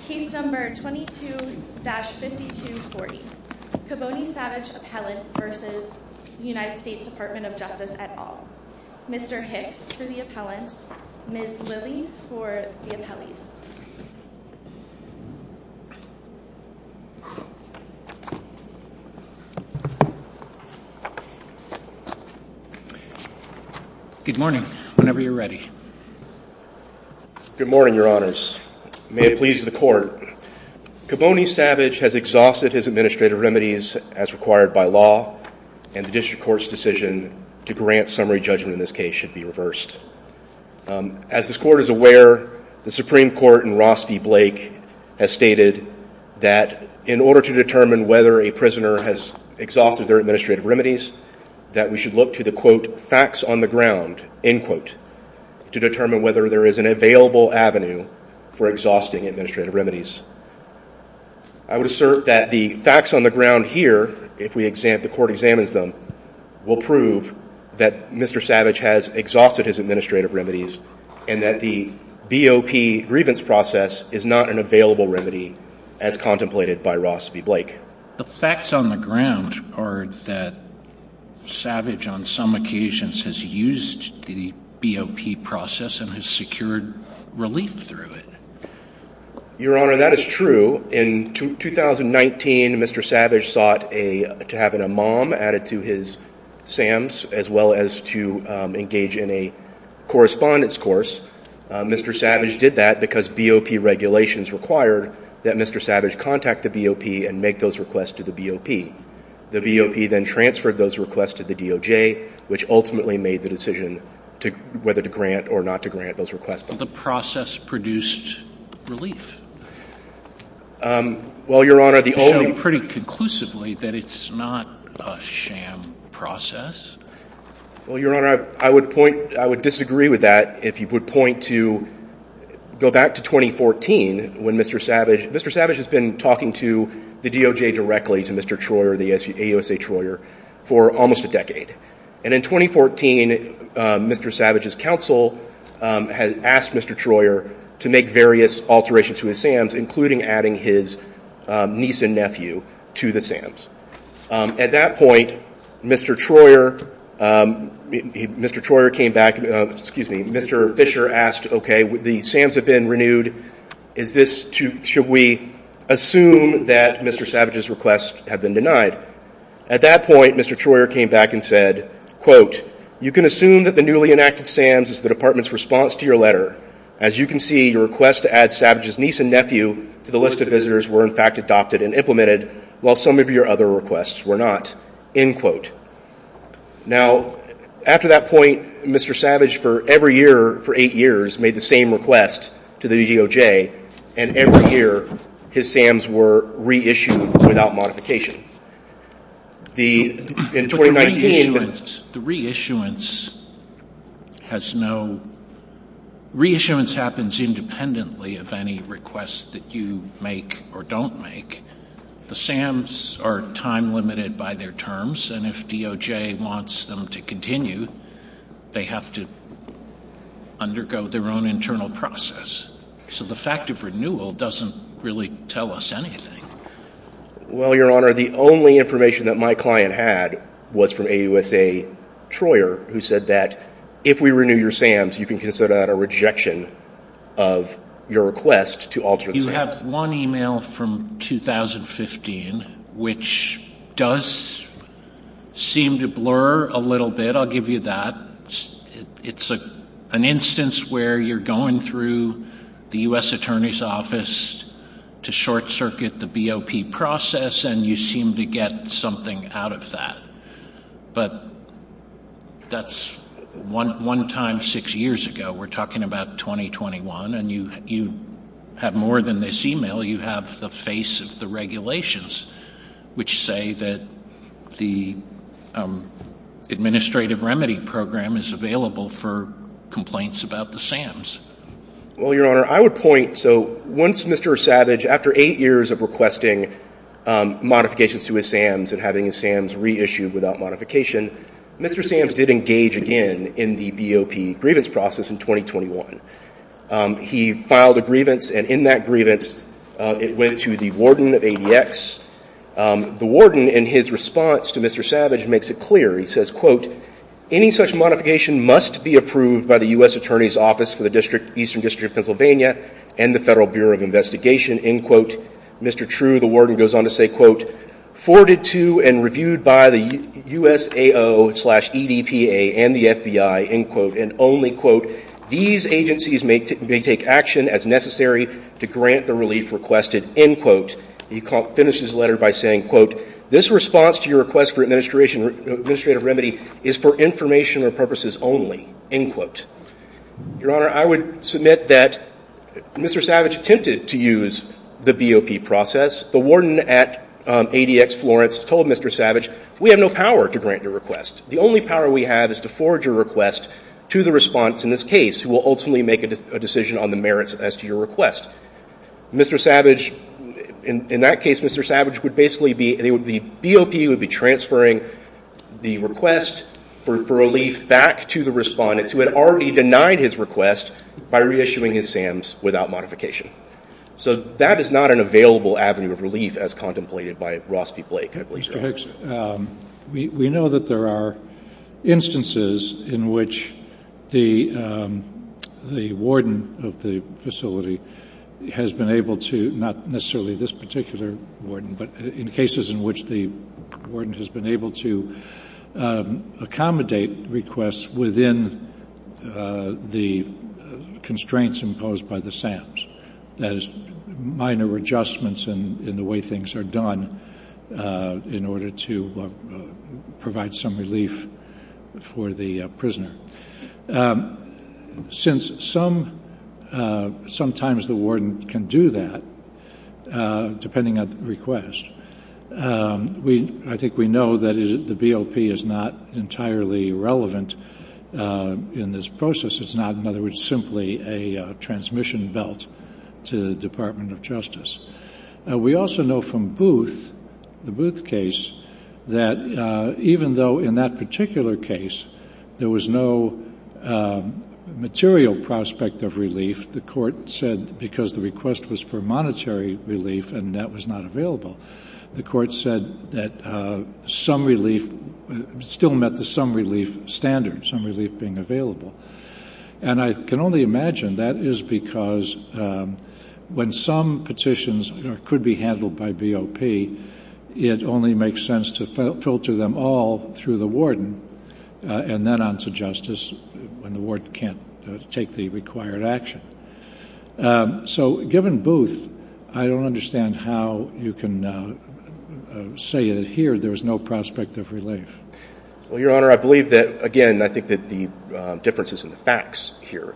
Case No. 22-5240 Kavoni Savage Appellant v. United States Department of Justice et al. Mr. Hicks for the appellant, Ms. Lilly for the appellees. Good morning. Whenever you're ready. Good morning, your honors. May it please the court. Kavoni Savage has exhausted his administrative remedies as required by law, and the district court's decision to grant summary judgment in this case should be reversed. As this court is aware, the Supreme Court in Ross v. Blake has stated that in order to determine whether a prisoner has exhausted their administrative remedies, that we should look to the, quote, facts on the ground, end quote, to determine whether there is an available avenue for exhausting administrative remedies. I would assert that the facts on the ground here, if the court examines them, will prove that Mr. Savage has exhausted his administrative remedies and that the BOP grievance process is not an available remedy as contemplated by Ross v. Blake. The facts on the ground are that Savage, on some occasions, has used the BOP process and has secured relief through it. Your honor, that is true. In 2019, Mr. Savage sought to have an imam added to his SAMs, as well as to engage in a correspondence course. Mr. Savage did that because BOP regulations required that Mr. Savage contact the BOP and make those requests to the BOP. The BOP then transferred those requests to the DOJ, which ultimately made the decision whether to grant or not to grant those requests. But the process produced relief. Well, your honor, the only — It showed pretty conclusively that it's not a SAM process. Well, your honor, I would point — I would disagree with that if you would point to — Mr. Savage has been talking to the DOJ directly, to Mr. Troyer, the AUSA Troyer, for almost a decade. And in 2014, Mr. Savage's counsel had asked Mr. Troyer to make various alterations to his SAMs, including adding his niece and nephew to the SAMs. At that point, Mr. Troyer came back — excuse me, Mr. Fisher asked, okay, the SAMs have been renewed. Should we assume that Mr. Savage's requests have been denied? At that point, Mr. Troyer came back and said, quote, you can assume that the newly enacted SAMs is the department's response to your letter. As you can see, your request to add Savage's niece and nephew to the list of visitors were, in fact, adopted and implemented, while some of your other requests were not, end quote. Now, after that point, Mr. Savage for every year for eight years made the same request to the DOJ, and every year his SAMs were reissued without modification. The — in 2019 — The reissuance has no — reissuance happens independently of any request that you make or don't make. The SAMs are time-limited by their terms, and if DOJ wants them to continue, they have to undergo their own internal process. So the fact of renewal doesn't really tell us anything. Well, Your Honor, the only information that my client had was from AUSA Troyer, who said that if we renew your SAMs, you can consider that a rejection of your request to alternate SAMs. You have one email from 2015, which does seem to blur a little bit. I'll give you that. It's an instance where you're going through the U.S. Attorney's Office to short-circuit the BOP process, and you seem to get something out of that. But that's one time six years ago. We're talking about 2021, and you have more than this email. You have the face of the regulations, which say that the administrative remedy program is available for complaints about the SAMs. Well, Your Honor, I would point — so once Mr. Savage, after eight years of requesting modifications to his SAMs and having his SAMs reissued without modification, Mr. SAMs did engage again in the BOP grievance process in 2021. He filed a grievance, and in that grievance it went to the warden of ADX. The warden, in his response to Mr. Savage, makes it clear. He says, quote, Any such modification must be approved by the U.S. Attorney's Office for the Eastern District of Pennsylvania and the Federal Bureau of Investigation, end quote. Mr. True, the warden, goes on to say, quote, Forwarded to and reviewed by the USAO slash EDPA and the FBI, end quote, and only, quote, These agencies may take action as necessary to grant the relief requested, end quote. He finishes the letter by saying, quote, This response to your request for administrative remedy is for information or purposes only, end quote. Your Honor, I would submit that Mr. Savage attempted to use the BOP process. The warden at ADX Florence told Mr. Savage, we have no power to grant your request. The only power we have is to forge a request to the response, in this case, who will ultimately make a decision on the merits as to your request. Mr. Savage, in that case, Mr. Savage would basically be, the BOP would be transferring the request for relief back to the respondents who had already denied his request by reissuing his SAMs without modification. So that is not an available avenue of relief as contemplated by Ross v. Blake, I believe. Mr. Hicks, we know that there are instances in which the warden of the facility has been able to, not necessarily this particular warden, but in cases in which the warden has been able to accommodate requests within the constraints imposed by the SAMs, that is, minor adjustments in the way things are done in order to provide some relief for the prisoner. Since sometimes the warden can do that, depending on the request, I think we know that the BOP is not entirely relevant in this process. It's not, in other words, simply a transmission belt to the Department of Justice. We also know from Booth, the Booth case, that even though in that particular case there was no material prospect of relief, the court said because the request was for monetary relief and that was not available, the court said that some relief still met the some relief standard, some relief being available. And I can only imagine that is because when some petitions could be handled by BOP, it only makes sense to filter them all through the warden and then on to justice when the warden can't take the required action. So given Booth, I don't understand how you can say that here there was no prospect of relief. Well, Your Honor, I believe that, again, I think that the difference is in the facts here.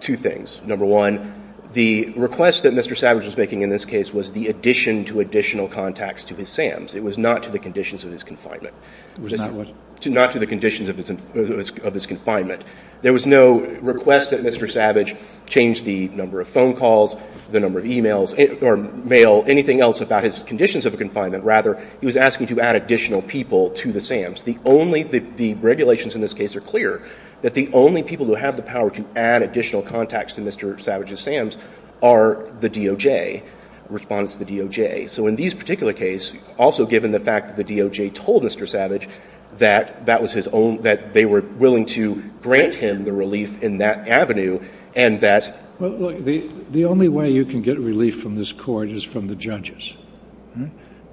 Two things. Number one, the request that Mr. Savage was making in this case was the addition to additional contacts to his SAMs. It was not to the conditions of his confinement. It was not what? Not to the conditions of his confinement. There was no request that Mr. Savage change the number of phone calls, the number of e-mails or mail, anything else about his conditions of confinement. Rather, he was asking to add additional people to the SAMs. The only – the regulations in this case are clear that the only people who have the power to add additional contacts to Mr. Savage's SAMs are the DOJ, respondents to the DOJ. So in this particular case, also given the fact that the DOJ told Mr. Savage that that was his own – that they were willing to grant him the relief in that avenue and that – Well, look, the only way you can get relief from this Court is from the judges.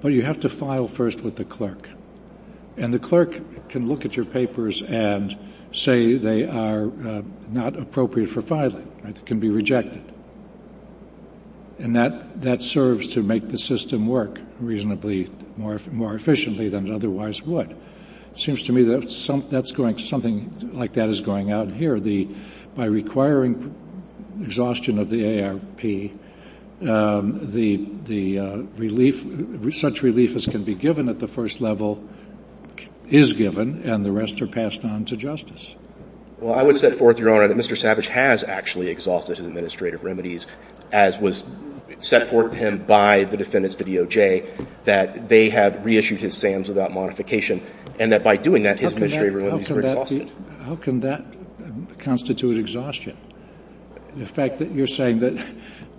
But you have to file first with the clerk. And the clerk can look at your papers and say they are not appropriate for filing. It can be rejected. And that serves to make the system work reasonably more efficiently than it otherwise would. It seems to me that something like that is going on here. By requiring exhaustion of the ARP, the relief – such relief as can be given at the first level is given, and the rest are passed on to justice. Well, I would set forth, Your Honor, that Mr. Savage has actually exhausted administrative remedies, as was set forth to him by the defendants, the DOJ, that they have reissued his SAMs without modification, and that by doing that, his administrative remedies were exhausted. How can that constitute exhaustion? The fact that you're saying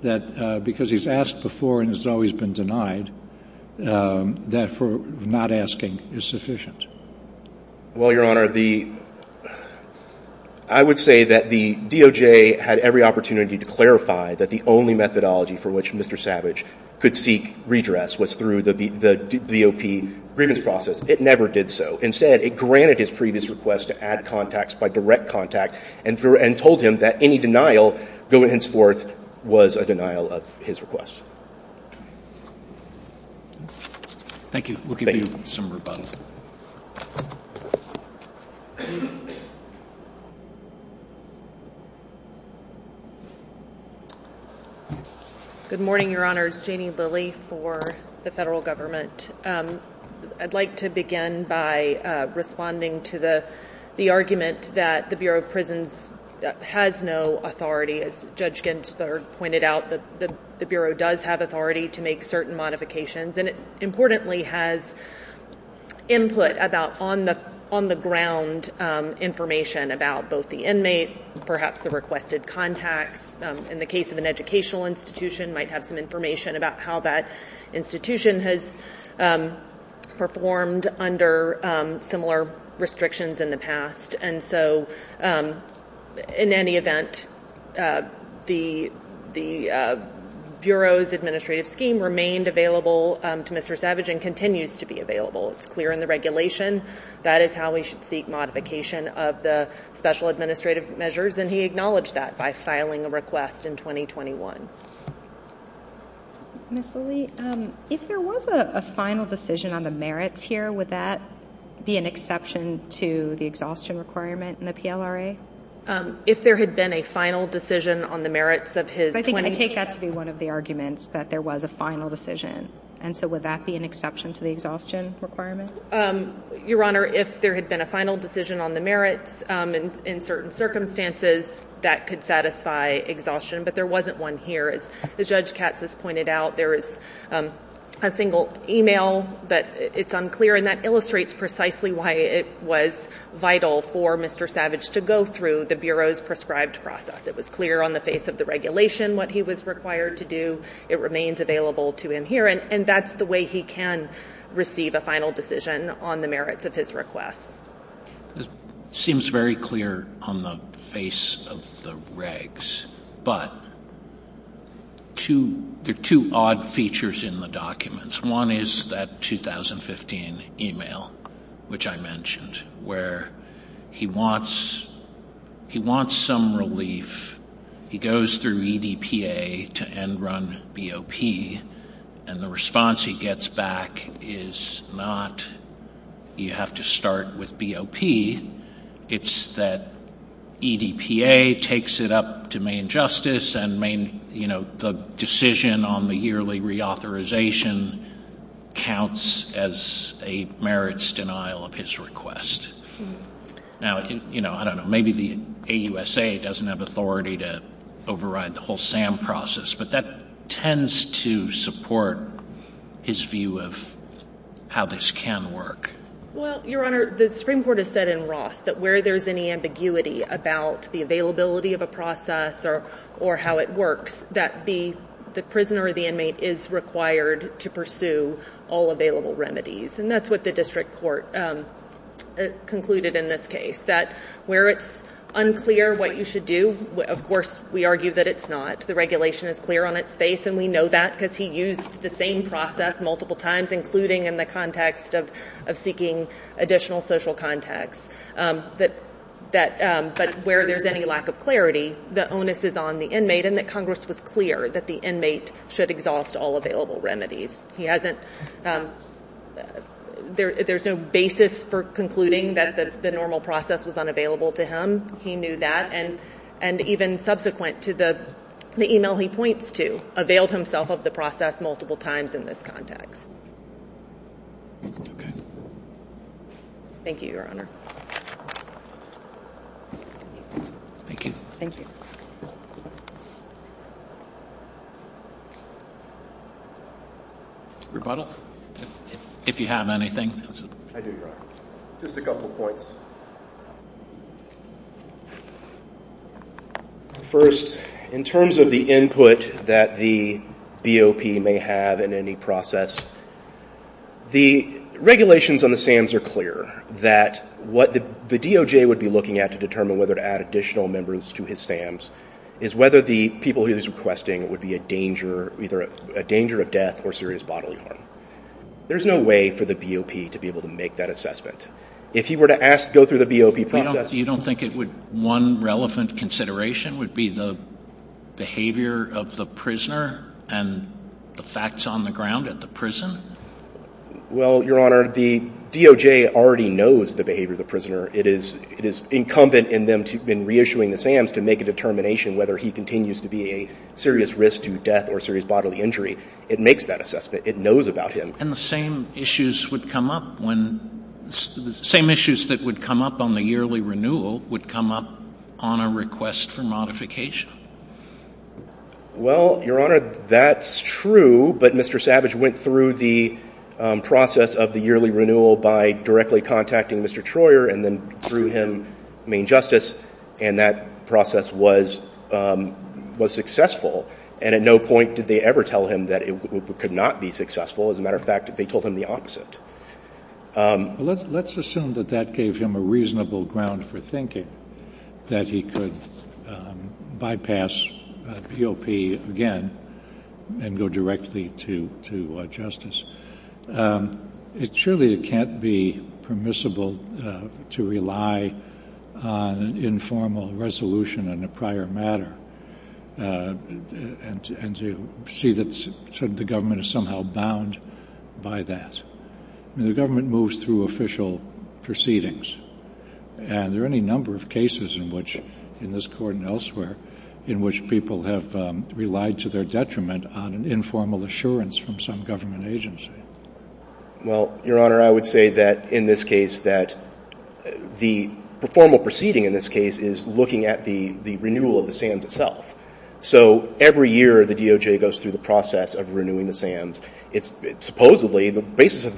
that because he's asked before and has always been denied, that for not asking is sufficient. Well, Your Honor, the – I would say that the DOJ had every opportunity to clarify that the only methodology for which Mr. Savage could seek redress was through the DOP grievance process. It never did so. Instead, it granted his previous request to add contacts by direct contact and told him that any denial going henceforth was a denial of his request. Thank you. We'll give you some rebuttal. Good morning, Your Honors. Janie Lilly for the Federal Government. I'd like to begin by responding to the argument that the Bureau of Prisons has no authority. As Judge Gensler pointed out, the Bureau does have authority to make certain modifications, and it importantly has input about on-the-ground information about both the inmate, perhaps the requested contacts. In the case of an educational institution, might have some information about how that institution has performed under similar restrictions in the past. And so in any event, the Bureau's administrative scheme remained available to Mr. Savage and continues to be available. It's clear in the regulation. That is how we should seek modification of the special administrative measures, and he acknowledged that by filing a request in 2021. Ms. Lilly, if there was a final decision on the merits here, would that be an exception to the exhaustion requirement in the PLRA? If there had been a final decision on the merits of his 20- I think I take that to be one of the arguments that there was a final decision, and so would that be an exception to the exhaustion requirement? Your Honor, if there had been a final decision on the merits in certain circumstances, that could satisfy exhaustion, but there wasn't one here. As Judge Katz has pointed out, there is a single email, but it's unclear, and that illustrates precisely why it was vital for Mr. Savage to go through the Bureau's prescribed process. It was clear on the face of the regulation what he was required to do. It remains available to him here, and that's the way he can receive a final decision on the merits of his requests. It seems very clear on the face of the regs, but there are two odd features in the documents. One is that 2015 email, which I mentioned, where he wants some relief. He goes through EDPA to Enron BOP, and the response he gets back is not, you have to start with BOP. It's that EDPA takes it up to Maine Justice, and the decision on the yearly reauthorization counts as a merits denial of his request. Now, I don't know, maybe the AUSA doesn't have authority to override the whole SAM process, but that tends to support his view of how this can work. Well, Your Honor, the Supreme Court has said in Ross that where there's any ambiguity about the availability of a process or how it works, that the prisoner or the inmate is required to pursue all available remedies, and that's what the district court concluded in this case, that where it's unclear what you should do, of course, we argue that it's not. The regulation is clear on its face, and we know that because he used the same process multiple times, including in the context of seeking additional social contacts. But where there's any lack of clarity, the onus is on the inmate, and that Congress was clear that the inmate should exhaust all available remedies. There's no basis for concluding that the normal process was unavailable to him. He knew that, and even subsequent to the e-mail he points to, availed himself of the process multiple times in this context. Okay. Thank you, Your Honor. Thank you. Thank you. Rebuttal, if you have anything. I do, Your Honor. Just a couple points. First, in terms of the input that the BOP may have in any process, the regulations on the SAMs are clear, that what the DOJ would be looking at to determine whether to add additional members to his SAMs is whether the people he's requesting would be a danger, either a danger of death or serious bodily harm. There's no way for the BOP to be able to make that assessment. If he were to go through the BOP process — You don't think one relevant consideration would be the behavior of the prisoner and the facts on the ground at the prison? Well, Your Honor, the DOJ already knows the behavior of the prisoner. It is incumbent in them, in reissuing the SAMs, to make a determination whether he continues to be a serious risk to death or serious bodily injury. It makes that assessment. It knows about him. And the same issues would come up when — the same issues that would come up on the yearly renewal would come up on a request for modification. Well, Your Honor, that's true, but Mr. Savage went through the process of the yearly renewal by directly contacting Mr. Troyer and then through him, Maine Justice, and that process was successful. And at no point did they ever tell him that it could not be successful. As a matter of fact, they told him the opposite. Let's assume that that gave him a reasonable ground for thinking, that he could bypass BOP again and go directly to justice. Surely it can't be permissible to rely on an informal resolution on a prior matter. And to see that the government is somehow bound by that. I mean, the government moves through official proceedings, and there are any number of cases in which, in this Court and elsewhere, in which people have relied to their detriment on an informal assurance from some government agency. Well, Your Honor, I would say that in this case that the formal proceeding in this case is looking at the renewal of the SAMs itself. So every year the DOJ goes through the process of renewing the SAMs. Supposedly, the basis of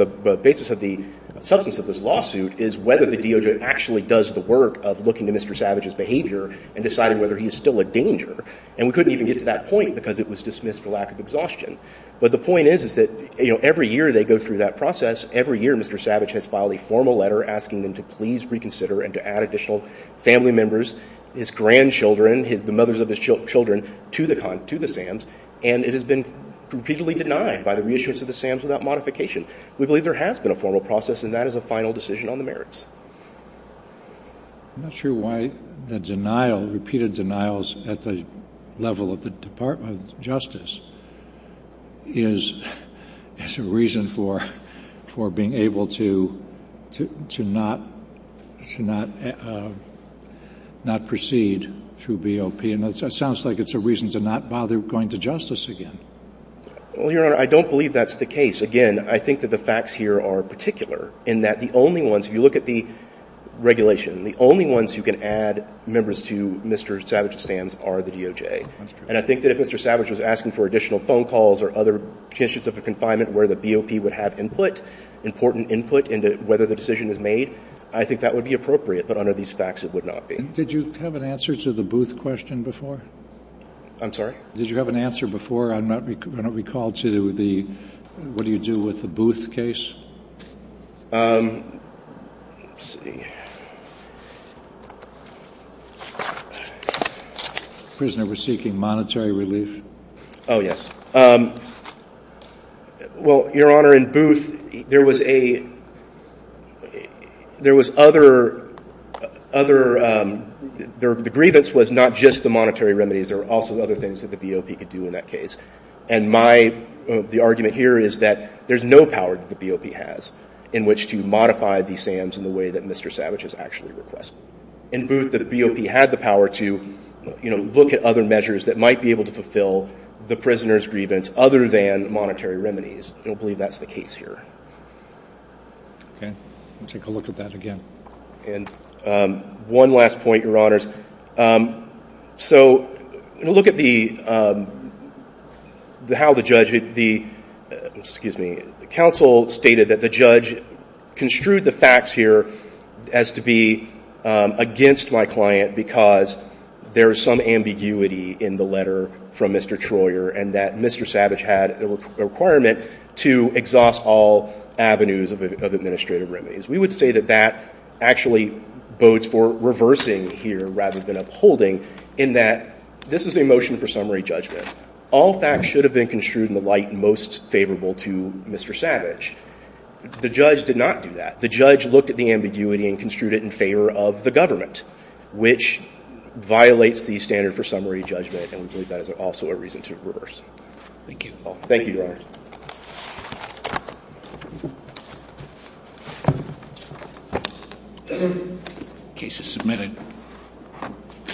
the substance of this lawsuit is whether the DOJ actually does the work of looking to Mr. Savage's behavior and deciding whether he is still a danger. And we couldn't even get to that point because it was dismissed for lack of exhaustion. But the point is that every year they go through that process. Every year Mr. Savage has filed a formal letter asking them to please reconsider and to add additional family members, his grandchildren, the mothers of his children to the SAMs. And it has been repeatedly denied by the reissuance of the SAMs without modification. We believe there has been a formal process, and that is a final decision on the merits. I'm not sure why the denial, repeated denials at the level of the Department of Justice, is a reason for being able to not proceed through BOP. And it sounds like it's a reason to not bother going to justice again. Well, Your Honor, I don't believe that's the case. Again, I think that the facts here are particular in that the only ones, if you look at the regulation, the only ones who can add members to Mr. Savage's SAMs are the DOJ. That's true. And I think that if Mr. Savage was asking for additional phone calls or other conditions of confinement where the BOP would have input, important input into whether the decision is made, I think that would be appropriate. But under these facts, it would not be. Did you have an answer to the Booth question before? I'm sorry? Did you have an answer before? I'm not going to recall to the what do you do with the Booth case. Let's see. The prisoner was seeking monetary relief? Oh, yes. Well, Your Honor, in Booth, there was a – there was other – the grievance was not just the monetary remedies. There were also other things that the BOP could do in that case. And my – the argument here is that there's no power that the BOP has in which to modify the SAMs in the way that Mr. Savage has actually requested. In Booth, the BOP had the power to, you know, look at other measures that might be able to fulfill the prisoner's grievance other than monetary remedies. I don't believe that's the case here. Okay. We'll take a look at that again. And one last point, Your Honors. So look at the – how the judge – the – excuse me – the counsel stated that the judge construed the facts here as to be against my client because there is some ambiguity in the letter from Mr. Troyer and that Mr. Savage had a requirement to exhaust all avenues of administrative remedies. We would say that that actually bodes for reversing here rather than upholding in that this is a motion for summary judgment. All facts should have been construed in the light most favorable to Mr. Savage. The judge did not do that. The judge looked at the ambiguity and construed it in favor of the government, which violates the standard for summary judgment, and we believe that is also a reason to reverse. Thank you. Thank you, Your Honors. Thank you. The case is submitted.